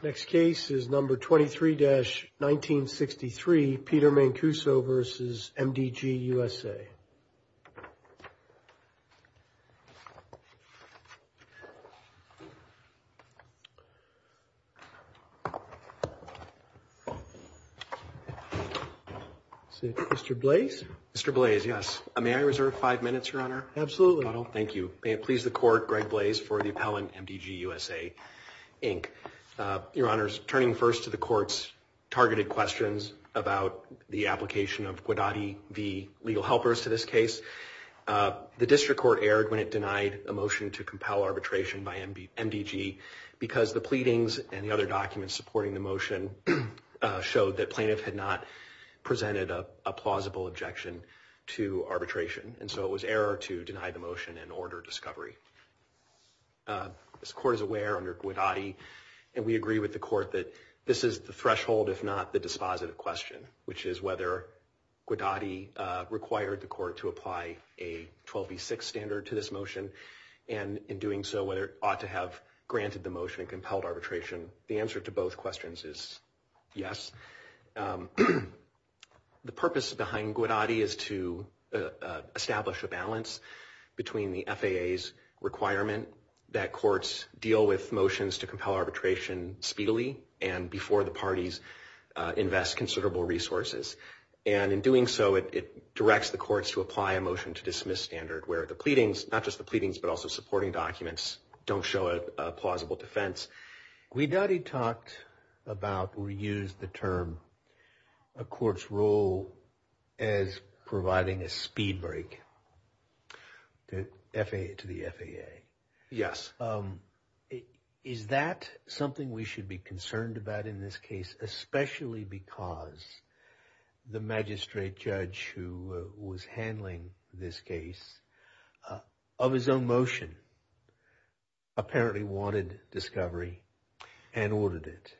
Next case is number 23-1963, Peter Mancuso v. MDGUSA. Mr. Blaise, yes, may I reserve five minutes, your honor? Absolutely. Thank you. May it please the court, Greg Blaise for the appellant, MDGUSAINC. Your honors, turning first to the court's targeted questions about the application of The district court erred when it denied a motion to compel arbitration by MDG because the pleadings and the other documents supporting the motion showed that plaintiff had not presented a plausible objection to arbitration, and so it was error to deny the motion and order discovery. As the court is aware, under Guadatti, and we agree with the court, that this is the threshold, if not the dispositive question, which is whether Guadatti required the court to apply a 12v6 standard to this motion, and in doing so, whether it ought to have granted the motion and compelled arbitration. The answer to both questions is yes. The purpose behind Guadatti is to establish a balance between the FAA's requirement that courts deal with motions to compel arbitration speedily and before the parties invest considerable resources, and in doing so, it directs the courts to apply a motion to dismiss standard where the pleadings, not just the pleadings, but also supporting documents, don't show a plausible defense. Guadatti talked about, or used the term, a court's role as providing a speed break to the FAA. Yes. Is that something we should be concerned about in this case, especially because the magistrate judge who was handling this case, of his own motion, apparently wanted discovery and ordered it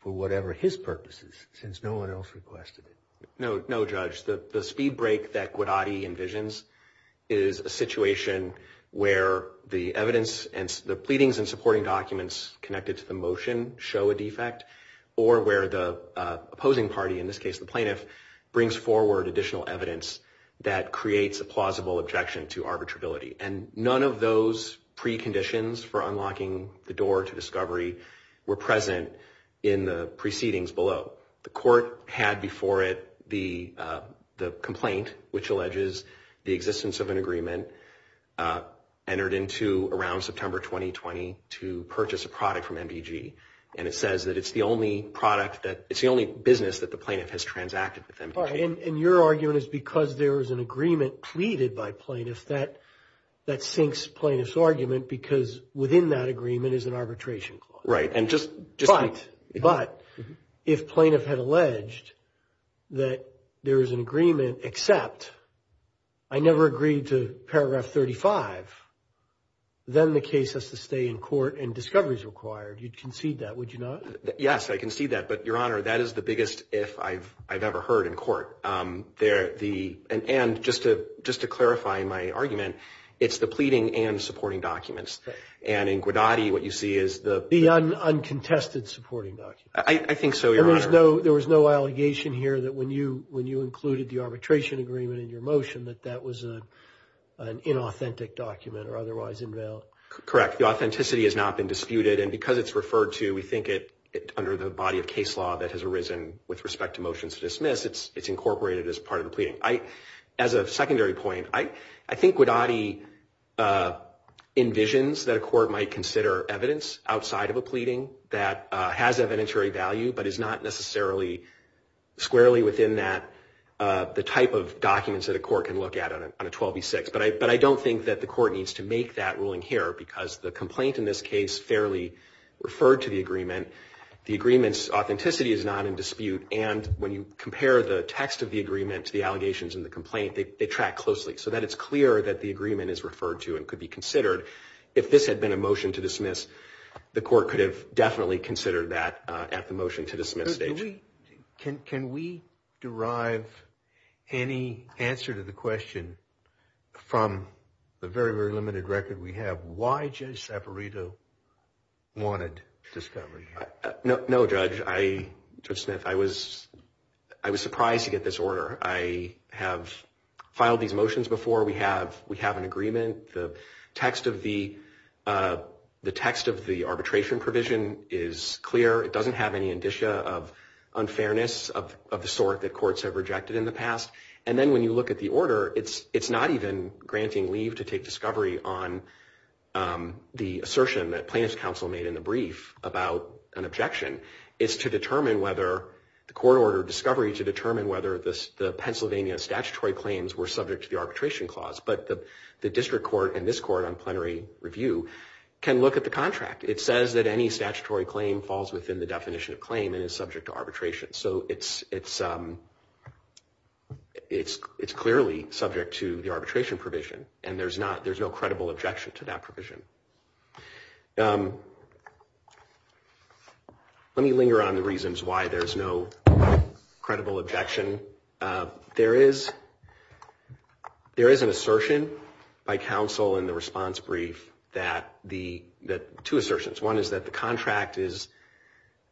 for whatever his purposes, since no one else requested it? No, no, Judge. The speed break that Guadatti envisions is a situation where the evidence and the pleadings and supporting documents connected to the motion show a defect, or where the opposing party, in this case the plaintiff, brings forward additional evidence that creates a plausible objection to arbitrability, and none of those preconditions for unlocking the door to discovery were present in the proceedings below. The court had before it the complaint, which alleges the existence of an agreement entered into around September 2020 to purchase a product from MDG, and it says that it's the only business that the plaintiff has transacted with MDG. Your argument is because there is an agreement pleaded by plaintiffs that that sinks plaintiff's argument because within that agreement is an arbitration clause. Right. But, if plaintiff had alleged that there is an agreement, except I never agreed to paragraph 35, then the case has to stay in court and discovery is required. You'd concede that, would you not? Yes, I concede that, but Your Honor, that is the biggest if I've ever heard in court. And, just to clarify my argument, it's the pleading and supporting documents, and in uncontested supporting documents. I think so, Your Honor. There was no allegation here that when you included the arbitration agreement in your motion that that was an inauthentic document or otherwise invalid? Correct. The authenticity has not been disputed, and because it's referred to, we think it, under the body of case law that has arisen with respect to motions to dismiss, it's incorporated as part of the pleading. As a secondary point, I think Guadagni envisions that a court might consider evidence outside of a pleading that has evidentiary value, but is not necessarily squarely within that, the type of documents that a court can look at on a 12 v. 6. But I don't think that the court needs to make that ruling here, because the complaint in this case fairly referred to the agreement. The agreement's authenticity is not in dispute, and when you compare the text of the agreement to the allegations in the complaint, they track closely. So that it's clear that the agreement is referred to and could be considered. If this had been a motion to dismiss, the court could have definitely considered that at the motion to dismiss stage. Can we derive any answer to the question from the very, very limited record we have? Why Judge Saperito wanted discovery? No, Judge. I, Judge Smith, I was surprised to get this order. I have filed these motions before. Before we have an agreement, the text of the, the text of the arbitration provision is clear. It doesn't have any indicia of unfairness of the sort that courts have rejected in the past. And then when you look at the order, it's not even granting leave to take discovery on the assertion that plaintiff's counsel made in the brief about an objection. It's to determine whether the court ordered discovery to determine whether the Pennsylvania statutory claims were subject to the arbitration clause. But the, the district court and this court on plenary review can look at the contract. It says that any statutory claim falls within the definition of claim and is subject to arbitration. So it's, it's, it's, it's clearly subject to the arbitration provision. And there's not, there's no credible objection to that provision. Let me linger on the reasons why there's no credible objection. There is, there is an assertion by counsel in the response brief that the, that two assertions. One is that the contract is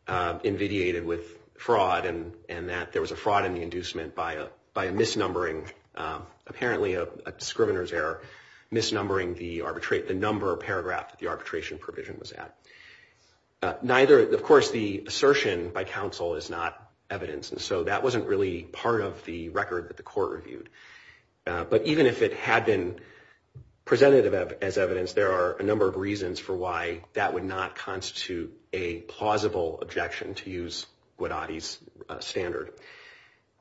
invidiated with fraud and, and that there was a fraud in the inducement by a, by a misnumbering, apparently a, a discriminator's error, misnumbering the arbitrate, the number of paragraph that the arbitration provision was at. Neither, of course, the assertion by counsel is not evidence. And so that wasn't really part of the record that the court reviewed. But even if it had been presented as evidence, there are a number of reasons for why that would not constitute a plausible objection to use Guadagni's standard.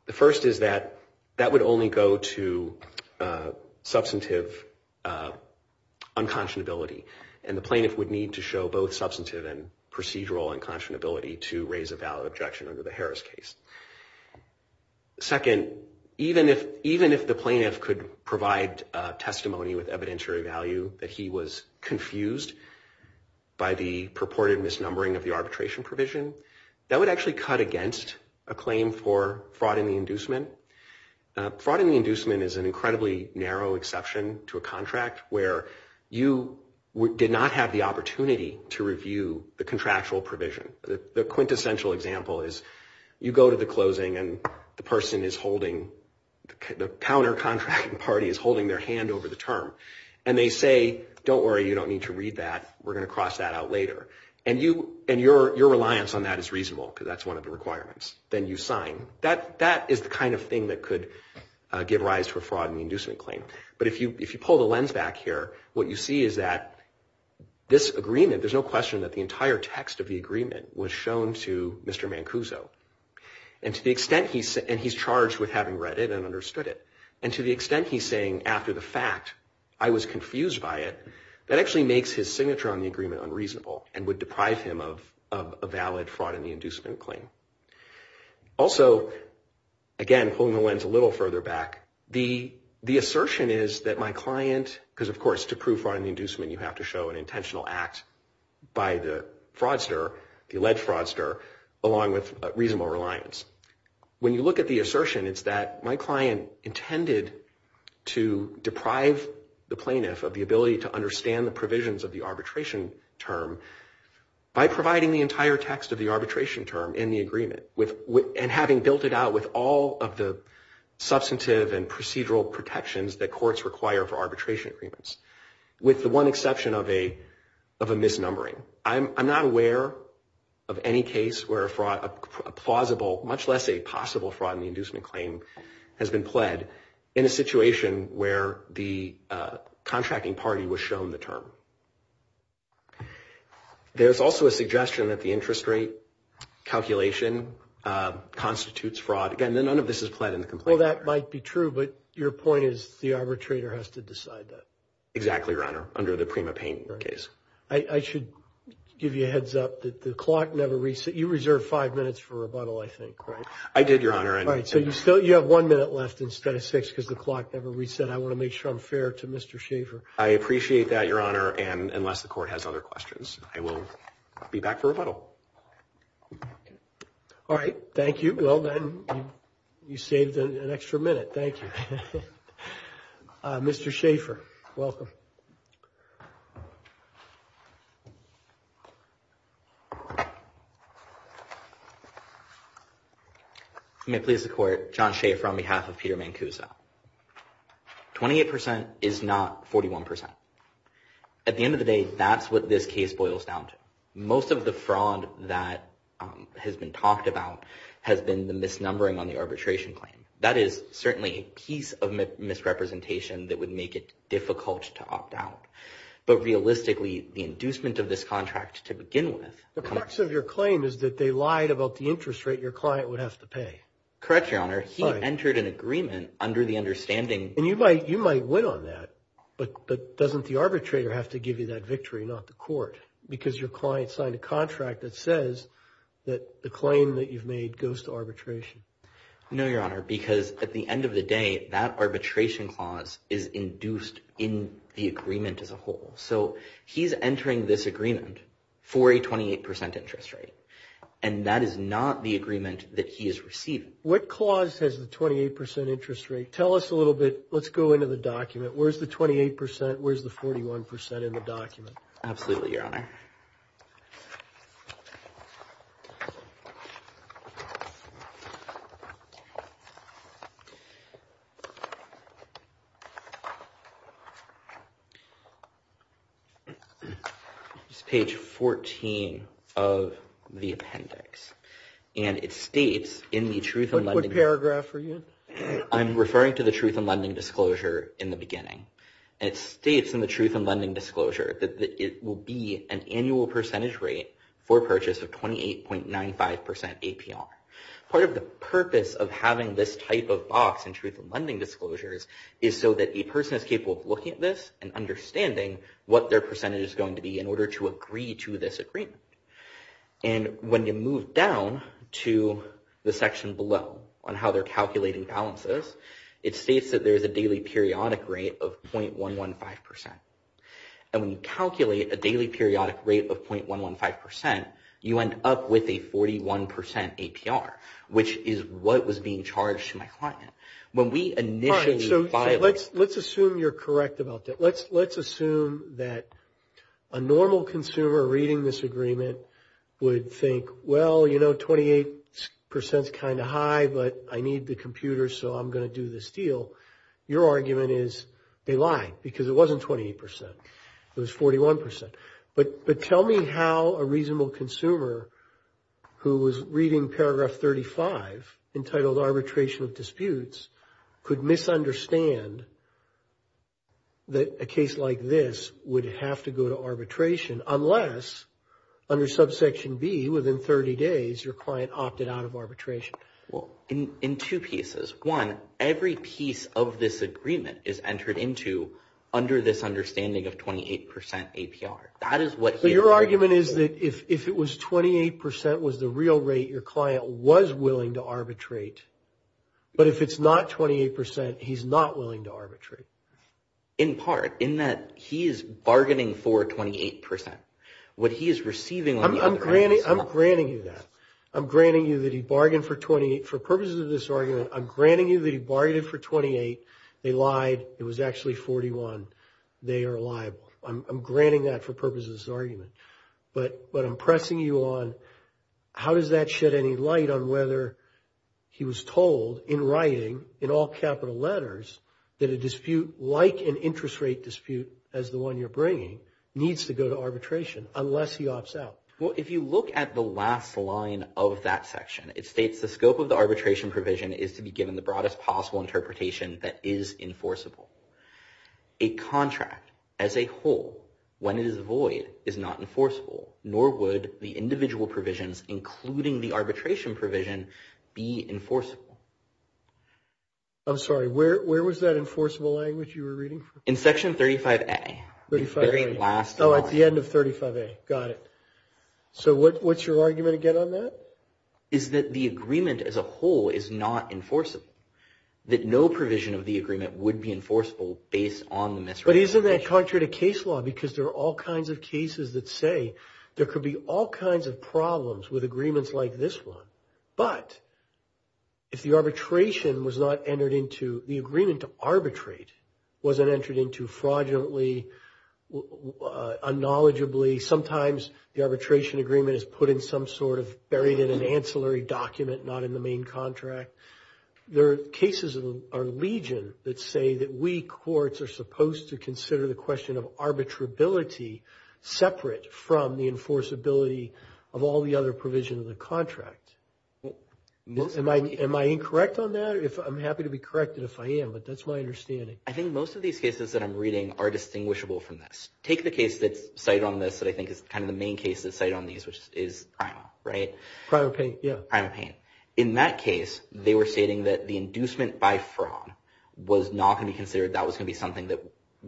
The first is that that would only go to substantive unconscionability and the plaintiff would need to show both substantive and procedural unconscionability to raise a valid objection under the Harris case. Second, even if, even if the plaintiff could provide a testimony with evidentiary value that he was confused by the purported misnumbering of the arbitration provision, that would actually cut against a claim for fraud in the inducement. Fraud in the inducement is an incredibly narrow exception to a contract where you did not have the opportunity to review the contractual provision. The quintessential example is you go to the closing and the person is holding, the counter contracting party is holding their hand over the term. And they say, don't worry, you don't need to read that. We're going to cross that out later. And you, and your reliance on that is reasonable because that's one of the requirements. Then you sign. That, that is the kind of thing that could give rise to a fraud in the inducement claim. But if you, if you pull the lens back here, what you see is that this agreement, there's no question that the entire text of the agreement was shown to Mr. Mancuso. And to the extent he's, and he's charged with having read it and understood it. And to the extent he's saying after the fact, I was confused by it, that actually makes his signature on the agreement unreasonable and would deprive him of, of a valid fraud in the inducement claim. Also again, pulling the lens a little further back, the, the assertion is that my client, because of course, to prove fraud in the inducement, you have to show an intentional act by the fraudster, the alleged fraudster, along with a reasonable reliance. When you look at the assertion, it's that my client intended to deprive the plaintiff of the ability to understand the provisions of the arbitration term by providing the entire text of the arbitration term in the agreement with, with, and having built it out with all of the substantive and procedural protections that courts require for arbitration agreements. With the one exception of a, of a misnumbering, I'm, I'm not aware of any case where a fraud, a plausible, much less a possible fraud in the inducement claim has been pled in a situation where the contracting party was shown the term. There's also a suggestion that the interest rate calculation constitutes fraud. Again, none of this is pled in the complaint. Well, that might be true, but your point is the arbitrator has to decide that. Exactly, Your Honor, under the Prima Payne case. I should give you a heads up that the clock never reset. You reserved five minutes for rebuttal, I think, right? I did, Your Honor. All right, so you still, you have one minute left instead of six because the clock never reset. I want to make sure I'm fair to Mr. Schaffer. I appreciate that, Your Honor, and unless the court has other questions, I will be back for rebuttal. Okay. All right. Thank you. Thank you. Well, then, you saved an extra minute. Thank you. Mr. Schaffer, welcome. May it please the Court, John Schaffer on behalf of Peter Mancuso, 28% is not 41%. At the end of the day, that's what this case boils down to. Most of the fraud that has been talked about has been the misnumbering on the arbitration claim. That is certainly a piece of misrepresentation that would make it difficult to opt out, but realistically, the inducement of this contract to begin with... The crux of your claim is that they lied about the interest rate your client would have to pay. Correct, Your Honor. He entered an agreement under the understanding... And you might win on that, but doesn't the arbitrator have to give you that victory, not the court, because your client signed a contract that says that the claim that you've made goes to arbitration? No, Your Honor, because at the end of the day, that arbitration clause is induced in the agreement as a whole. He's entering this agreement for a 28% interest rate, and that is not the agreement that he is receiving. What clause has the 28% interest rate? Tell us a little bit. Let's go into the document. Where's the 28%? Where's the 41% in the document? Absolutely, Your Honor. It's page 14 of the appendix, and it states in the Truth in Lending... What paragraph are you in? I'm referring to the Truth in Lending disclosure in the beginning. It states in the Truth in Lending disclosure that it will be an annual percentage rate for purchase of 28.95% APR. Part of the purpose of having this type of box in Truth in Lending disclosures is so that a person is capable of looking at this and understanding what their percentage is going to be in order to agree to this agreement. When you move down to the section below on how they're calculating balances, it states that there's a daily periodic rate of 0.115%, and when you calculate a daily periodic rate of 0.115%, you end up with a 41% APR, which is what was being charged to my client. When we initially... All right, so let's assume you're correct about that. Let's assume that a normal consumer reading this agreement would think, well, 28% is kind of high, but I need the computer, so I'm going to do this deal. Your argument is they lied because it wasn't 28%, it was 41%. But tell me how a reasonable consumer who was reading paragraph 35 entitled Arbitration of Disputes could misunderstand that a case like this would have to go to arbitration unless under subsection B, within 30 days, your client opted out of arbitration. Well, in two pieces. One, every piece of this agreement is entered into under this understanding of 28% APR. That is what he... So your argument is that if it was 28% was the real rate your client was willing to arbitrate, but if it's not 28%, he's not willing to arbitrate. In part, in that he is bargaining for 28%. What he is receiving on the other hand is not... I'm granting you that. I'm granting you that he bargained for 28... For purposes of this argument, I'm granting you that he bargained for 28, they lied, it was actually 41, they are liable. I'm granting that for purposes of this argument. But I'm pressing you on how does that shed any light on whether he was told in writing, in all capital letters, that a dispute like an interest rate dispute as the one you're bringing needs to go to arbitration unless he opts out. Well, if you look at the last line of that section, it states the scope of the arbitration provision is to be given the broadest possible interpretation that is enforceable. A contract as a whole, when it is void, is not enforceable, nor would the individual provisions, including the arbitration provision, be enforceable. I'm sorry, where was that enforceable language you were reading from? In section 35A. 35A. The very last line. Oh, at the end of 35A, got it. So what's your argument again on that? Is that the agreement as a whole is not enforceable, that no provision of the agreement would be enforceable based on the misrepresentation. But isn't that contrary to case law because there are all kinds of cases that say there could be all kinds of problems with agreements like this one, but if the arbitration was not entered into, the agreement to arbitrate wasn't entered into fraudulently, unknowledgeably. Sometimes the arbitration agreement is put in some sort of, buried in an ancillary document, not in the main contract. There are cases in our legion that say that we courts are supposed to consider the question of arbitrability separate from the enforceability of all the other provisions of the contract. Am I incorrect on that? I'm happy to be corrected if I am, but that's my understanding. I think most of these cases that I'm reading are distinguishable from this. Take the case that's cited on this that I think is kind of the main case that's cited on these, which is Prima, right? Prima Payne, yeah. Prima Payne. In that case, they were stating that the inducement by fraud was not going to be considered, that fraud was going to be something that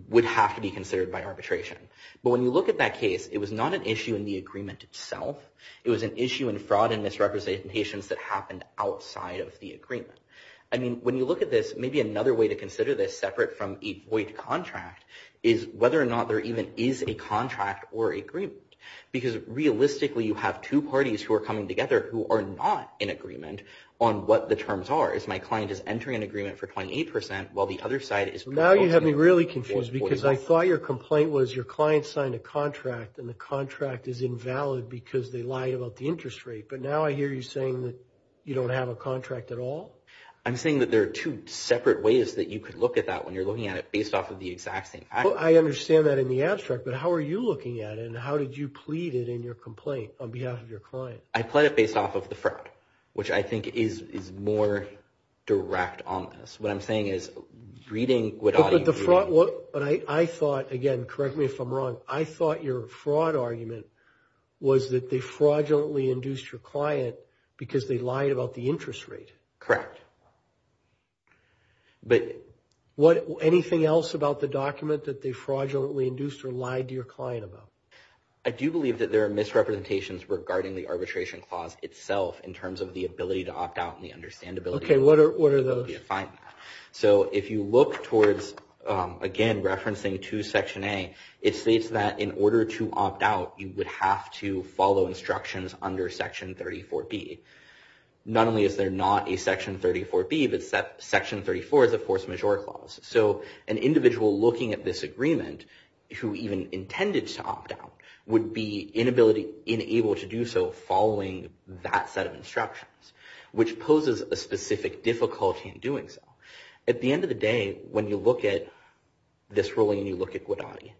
would have to be considered by arbitration. But when you look at that case, it was not an issue in the agreement itself. It was an issue in fraud and misrepresentations that happened outside of the agreement. I mean, when you look at this, maybe another way to consider this separate from a void contract is whether or not there even is a contract or agreement, because realistically, you have two parties who are coming together who are not in agreement on what the terms are. One side of the story is my client is entering an agreement for 28% while the other side is... Now, you have me really confused because I thought your complaint was your client signed a contract and the contract is invalid because they lied about the interest rate, but now I hear you saying that you don't have a contract at all? I'm saying that there are two separate ways that you could look at that when you're looking at it based off of the exact same fact. I understand that in the abstract, but how are you looking at it and how did you plead it in your complaint on behalf of your client? I plead it based off of the fraud, which I think is more direct on this. What I'm saying is reading what... But the fraud... But I thought, again, correct me if I'm wrong, I thought your fraud argument was that they fraudulently induced your client because they lied about the interest rate. Correct. But... What... Anything else about the document that they fraudulently induced or lied to your client about? I do believe that there are misrepresentations regarding the arbitration clause itself in terms of the ability to opt out and the understandability of it. Okay, what are those? So if you look towards, again, referencing to Section A, it states that in order to opt out, you would have to follow instructions under Section 34B. Not only is there not a Section 34B, but Section 34 is a force majeure clause. So an individual looking at this agreement, who even intended to opt out, would be inability... Inable to do so following that set of instructions, which poses a specific difficulty in doing so. At the end of the day, when you look at this ruling and you look at Guadagni,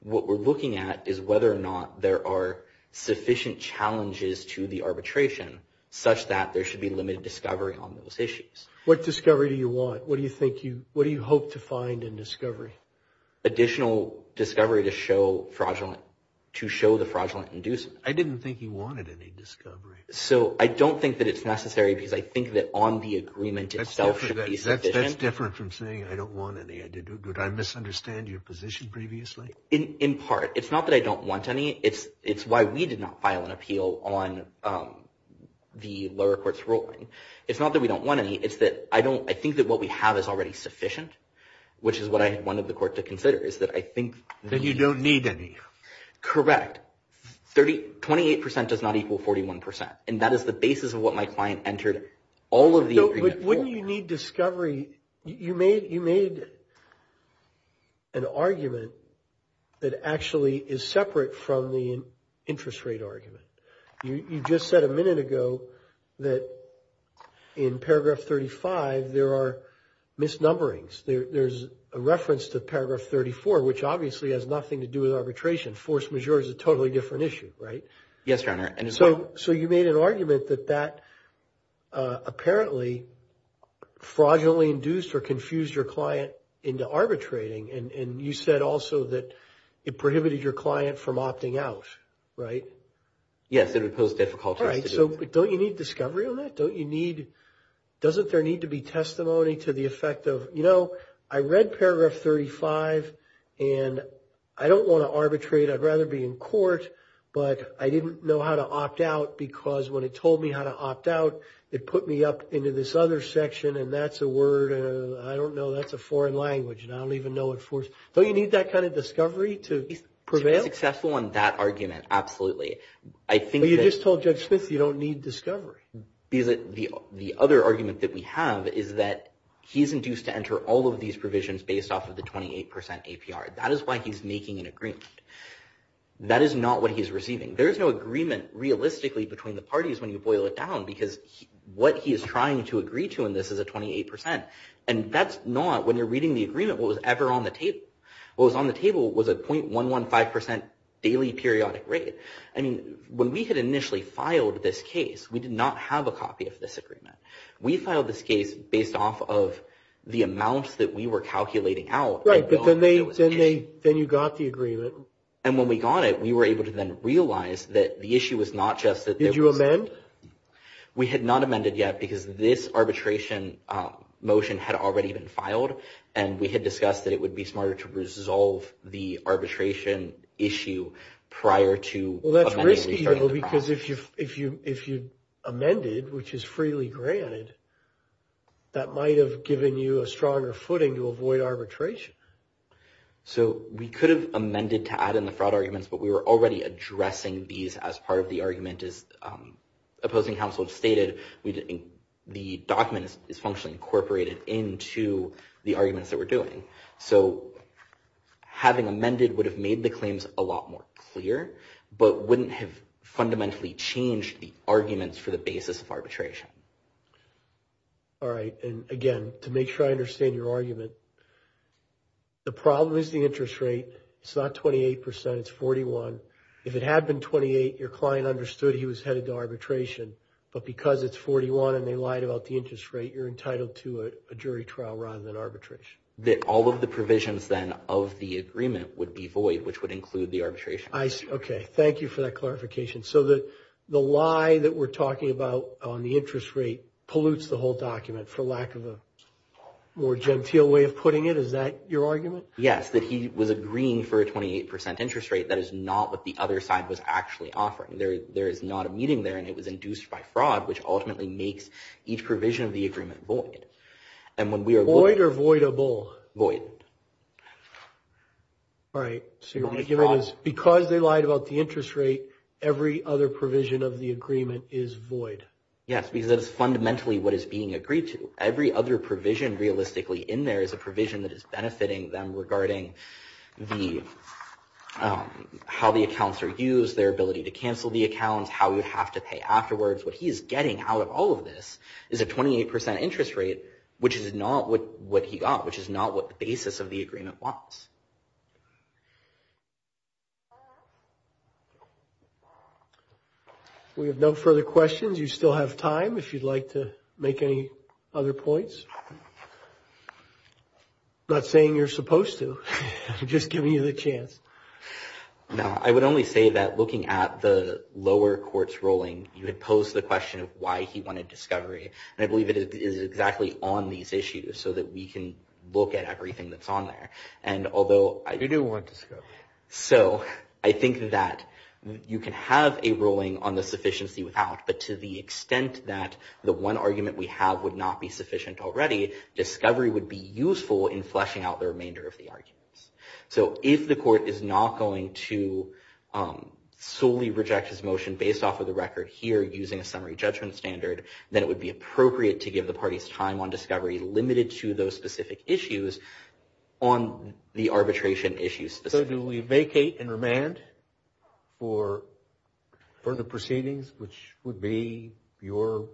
what we're looking at is whether or not there are sufficient challenges to the arbitration such that there should be limited discovery on those issues. What discovery do you want? What do you think you... What do you hope to find in discovery? Additional discovery to show fraudulent... To show the fraudulent inducement. I didn't think he wanted any discovery. So I don't think that it's necessary because I think that on the agreement itself should be sufficient. That's different from saying, I don't want any. Did I misunderstand your position previously? In part. It's not that I don't want any. It's why we did not file an appeal on the lower court's ruling. It's not that we don't want any. It's that I don't... I think that what we have is already sufficient, which is what I had wanted the court to consider, is that I think... That you don't need any. Correct. 28% does not equal 41%. And that is the basis of what my client entered all of the agreement for. But wouldn't you need discovery... You made an argument that actually is separate from the interest rate argument. You just said a minute ago that in paragraph 35, there are misnumberings. There's a reference to paragraph 34, which obviously has nothing to do with arbitration. Force majeure is a totally different issue, right? Yes, Your Honor. And as well... So you made an argument that that apparently fraudulently induced or confused your client into arbitrating. And you said also that it prohibited your client from opting out, right? Yes, it would pose difficulties to do it. All right. So don't you need discovery on that? Don't you need... Doesn't there need to be testimony to the effect of, you know, I read paragraph 35 and I don't want to arbitrate. I'd rather be in court, but I didn't know how to opt out because when it told me how to opt out, it put me up into this other section and that's a word... I don't know. That's a foreign language and I don't even know what force... Don't you need that kind of discovery to prevail? To be successful on that argument, absolutely. I think that... But you just told Judge Smith you don't need discovery. The other argument that we have is that he's induced to enter all of these provisions based off of the 28% APR. That is why he's making an agreement. That is not what he's receiving. There's no agreement realistically between the parties when you boil it down because what he is trying to agree to in this is a 28% and that's not, when you're reading the agreement, what was ever on the table. What was on the table was a .115% daily periodic rate. I mean, when we had initially filed this case, we did not have a copy of this agreement. We filed this case based off of the amounts that we were calculating out. Right, but then you got the agreement. And when we got it, we were able to then realize that the issue was not just that... Did you amend? We had not amended yet because this arbitration motion had already been filed and we had discussed that it would be smarter to resolve the arbitration issue prior to... Well, that's risky though because if you amended, which is freely granted, that might have given you a stronger footing to avoid arbitration. So we could have amended to add in the fraud arguments, but we were already addressing these as part of the argument as opposing counsel have stated, the document is functionally incorporated into the arguments that we're doing. So having amended would have made the claims a lot more clear, but wouldn't have fundamentally changed the arguments for the basis of arbitration. All right, and again, to make sure I understand your argument, the problem is the interest rate. It's not 28%. It's 41%. If it had been 28, your client understood he was headed to arbitration, but because it's 41 and they lied about the interest rate, you're entitled to a jury trial rather than arbitration. That all of the provisions then of the agreement would be void, which would include the arbitration. I see. Okay. Thank you for that clarification. So the lie that we're talking about on the interest rate pollutes the whole document for lack of a more genteel way of putting it. Is that your argument? Yes. The fact that he was agreeing for a 28% interest rate, that is not what the other side was actually offering. There is not a meeting there and it was induced by fraud, which ultimately makes each provision of the agreement void. Void or voidable? Void. All right, so your argument is because they lied about the interest rate, every other provision of the agreement is void. Yes, because that is fundamentally what is being agreed to. Every other provision realistically in there is a provision that is benefiting them regarding how the accounts are used, their ability to cancel the accounts, how you have to pay afterwards. What he's getting out of all of this is a 28% interest rate, which is not what he got, which is not what the basis of the agreement was. We have no further questions. You still have time if you'd like to make any other points. Not saying you're supposed to, I'm just giving you the chance. No, I would only say that looking at the lower court's ruling, you had posed the question of why he wanted discovery, and I believe it is exactly on these issues so that we can look at everything that's on there. You do want discovery. So I think that you can have a ruling on the sufficiency without, but to the extent that the one argument we have would not be sufficient already, discovery would be useful in fleshing out the remainder of the arguments. So if the court is not going to solely reject his motion based off of the record here using a summary judgment standard, then it would be appropriate to give the parties time on the arbitration issues. So do we vacate and remand for further proceedings, which would be your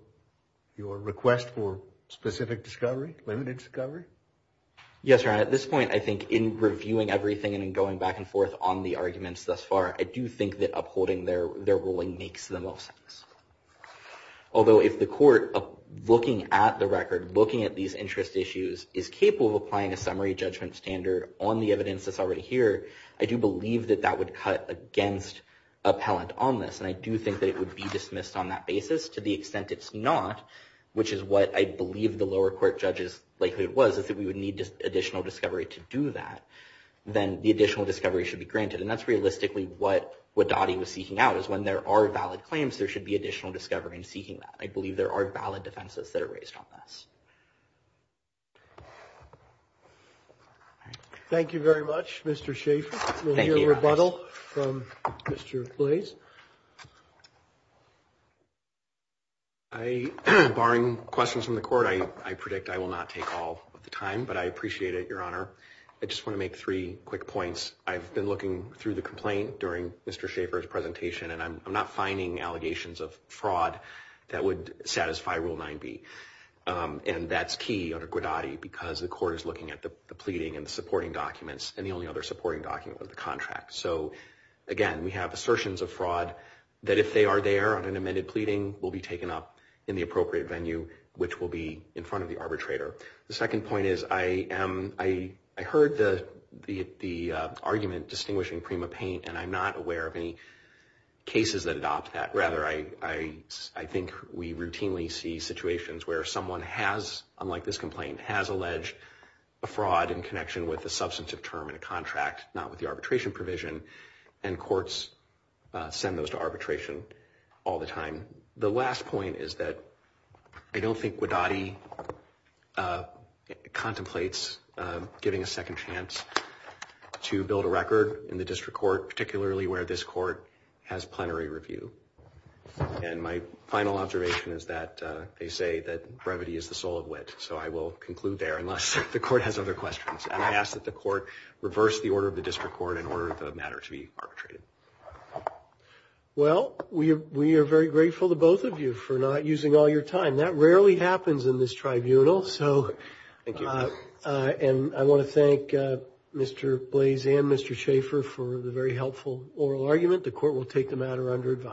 request for specific discovery, limited discovery? Yes, Your Honor. At this point, I think in reviewing everything and in going back and forth on the arguments thus far, I do think that upholding their ruling makes the most sense. Although if the court, looking at the record, looking at these interest issues, is capable of applying a summary judgment standard on the evidence that's already here, I do believe that that would cut against appellant on this, and I do think that it would be dismissed on that basis. To the extent it's not, which is what I believe the lower court judges like it was, is that we would need additional discovery to do that, then the additional discovery should be granted. And that's realistically what Wadati was seeking out, is when there are valid claims, there should be additional discovery in seeking that. I believe there are valid defenses that are raised on this. All right. Thank you very much, Mr. Schaffer. We'll hear rebuttal from Mr. Blais. I, barring questions from the court, I predict I will not take all of the time, but I appreciate it, Your Honor. I just want to make three quick points. I've been looking through the complaint during Mr. Schaffer's presentation, and I'm not finding allegations of fraud that would satisfy Rule 9b. And that's key under Gwadati, because the court is looking at the pleading and the supporting documents, and the only other supporting document was the contract. So, again, we have assertions of fraud that if they are there on an amended pleading, will be taken up in the appropriate venue, which will be in front of the arbitrator. The second point is, I heard the argument distinguishing Prima Paint, and I'm not aware of any cases that adopt that. Rather, I think we routinely see situations where someone has, unlike this complaint, has alleged a fraud in connection with a substantive term in a contract, not with the arbitration provision, and courts send those to arbitration all the time. The last point is that I don't think Gwadati contemplates giving a second chance to build a record in the district court, particularly where this court has plenary review. And my final observation is that they say that brevity is the soul of wit. So I will conclude there, unless the court has other questions. And I ask that the court reverse the order of the district court in order for the matter to be arbitrated. Well, we are very grateful to both of you for not using all your time. That rarely happens in this tribunal. Thank you. And I want to thank Mr. Blaze and Mr. Schaffer for the very helpful oral argument. The court will take the matter under advice.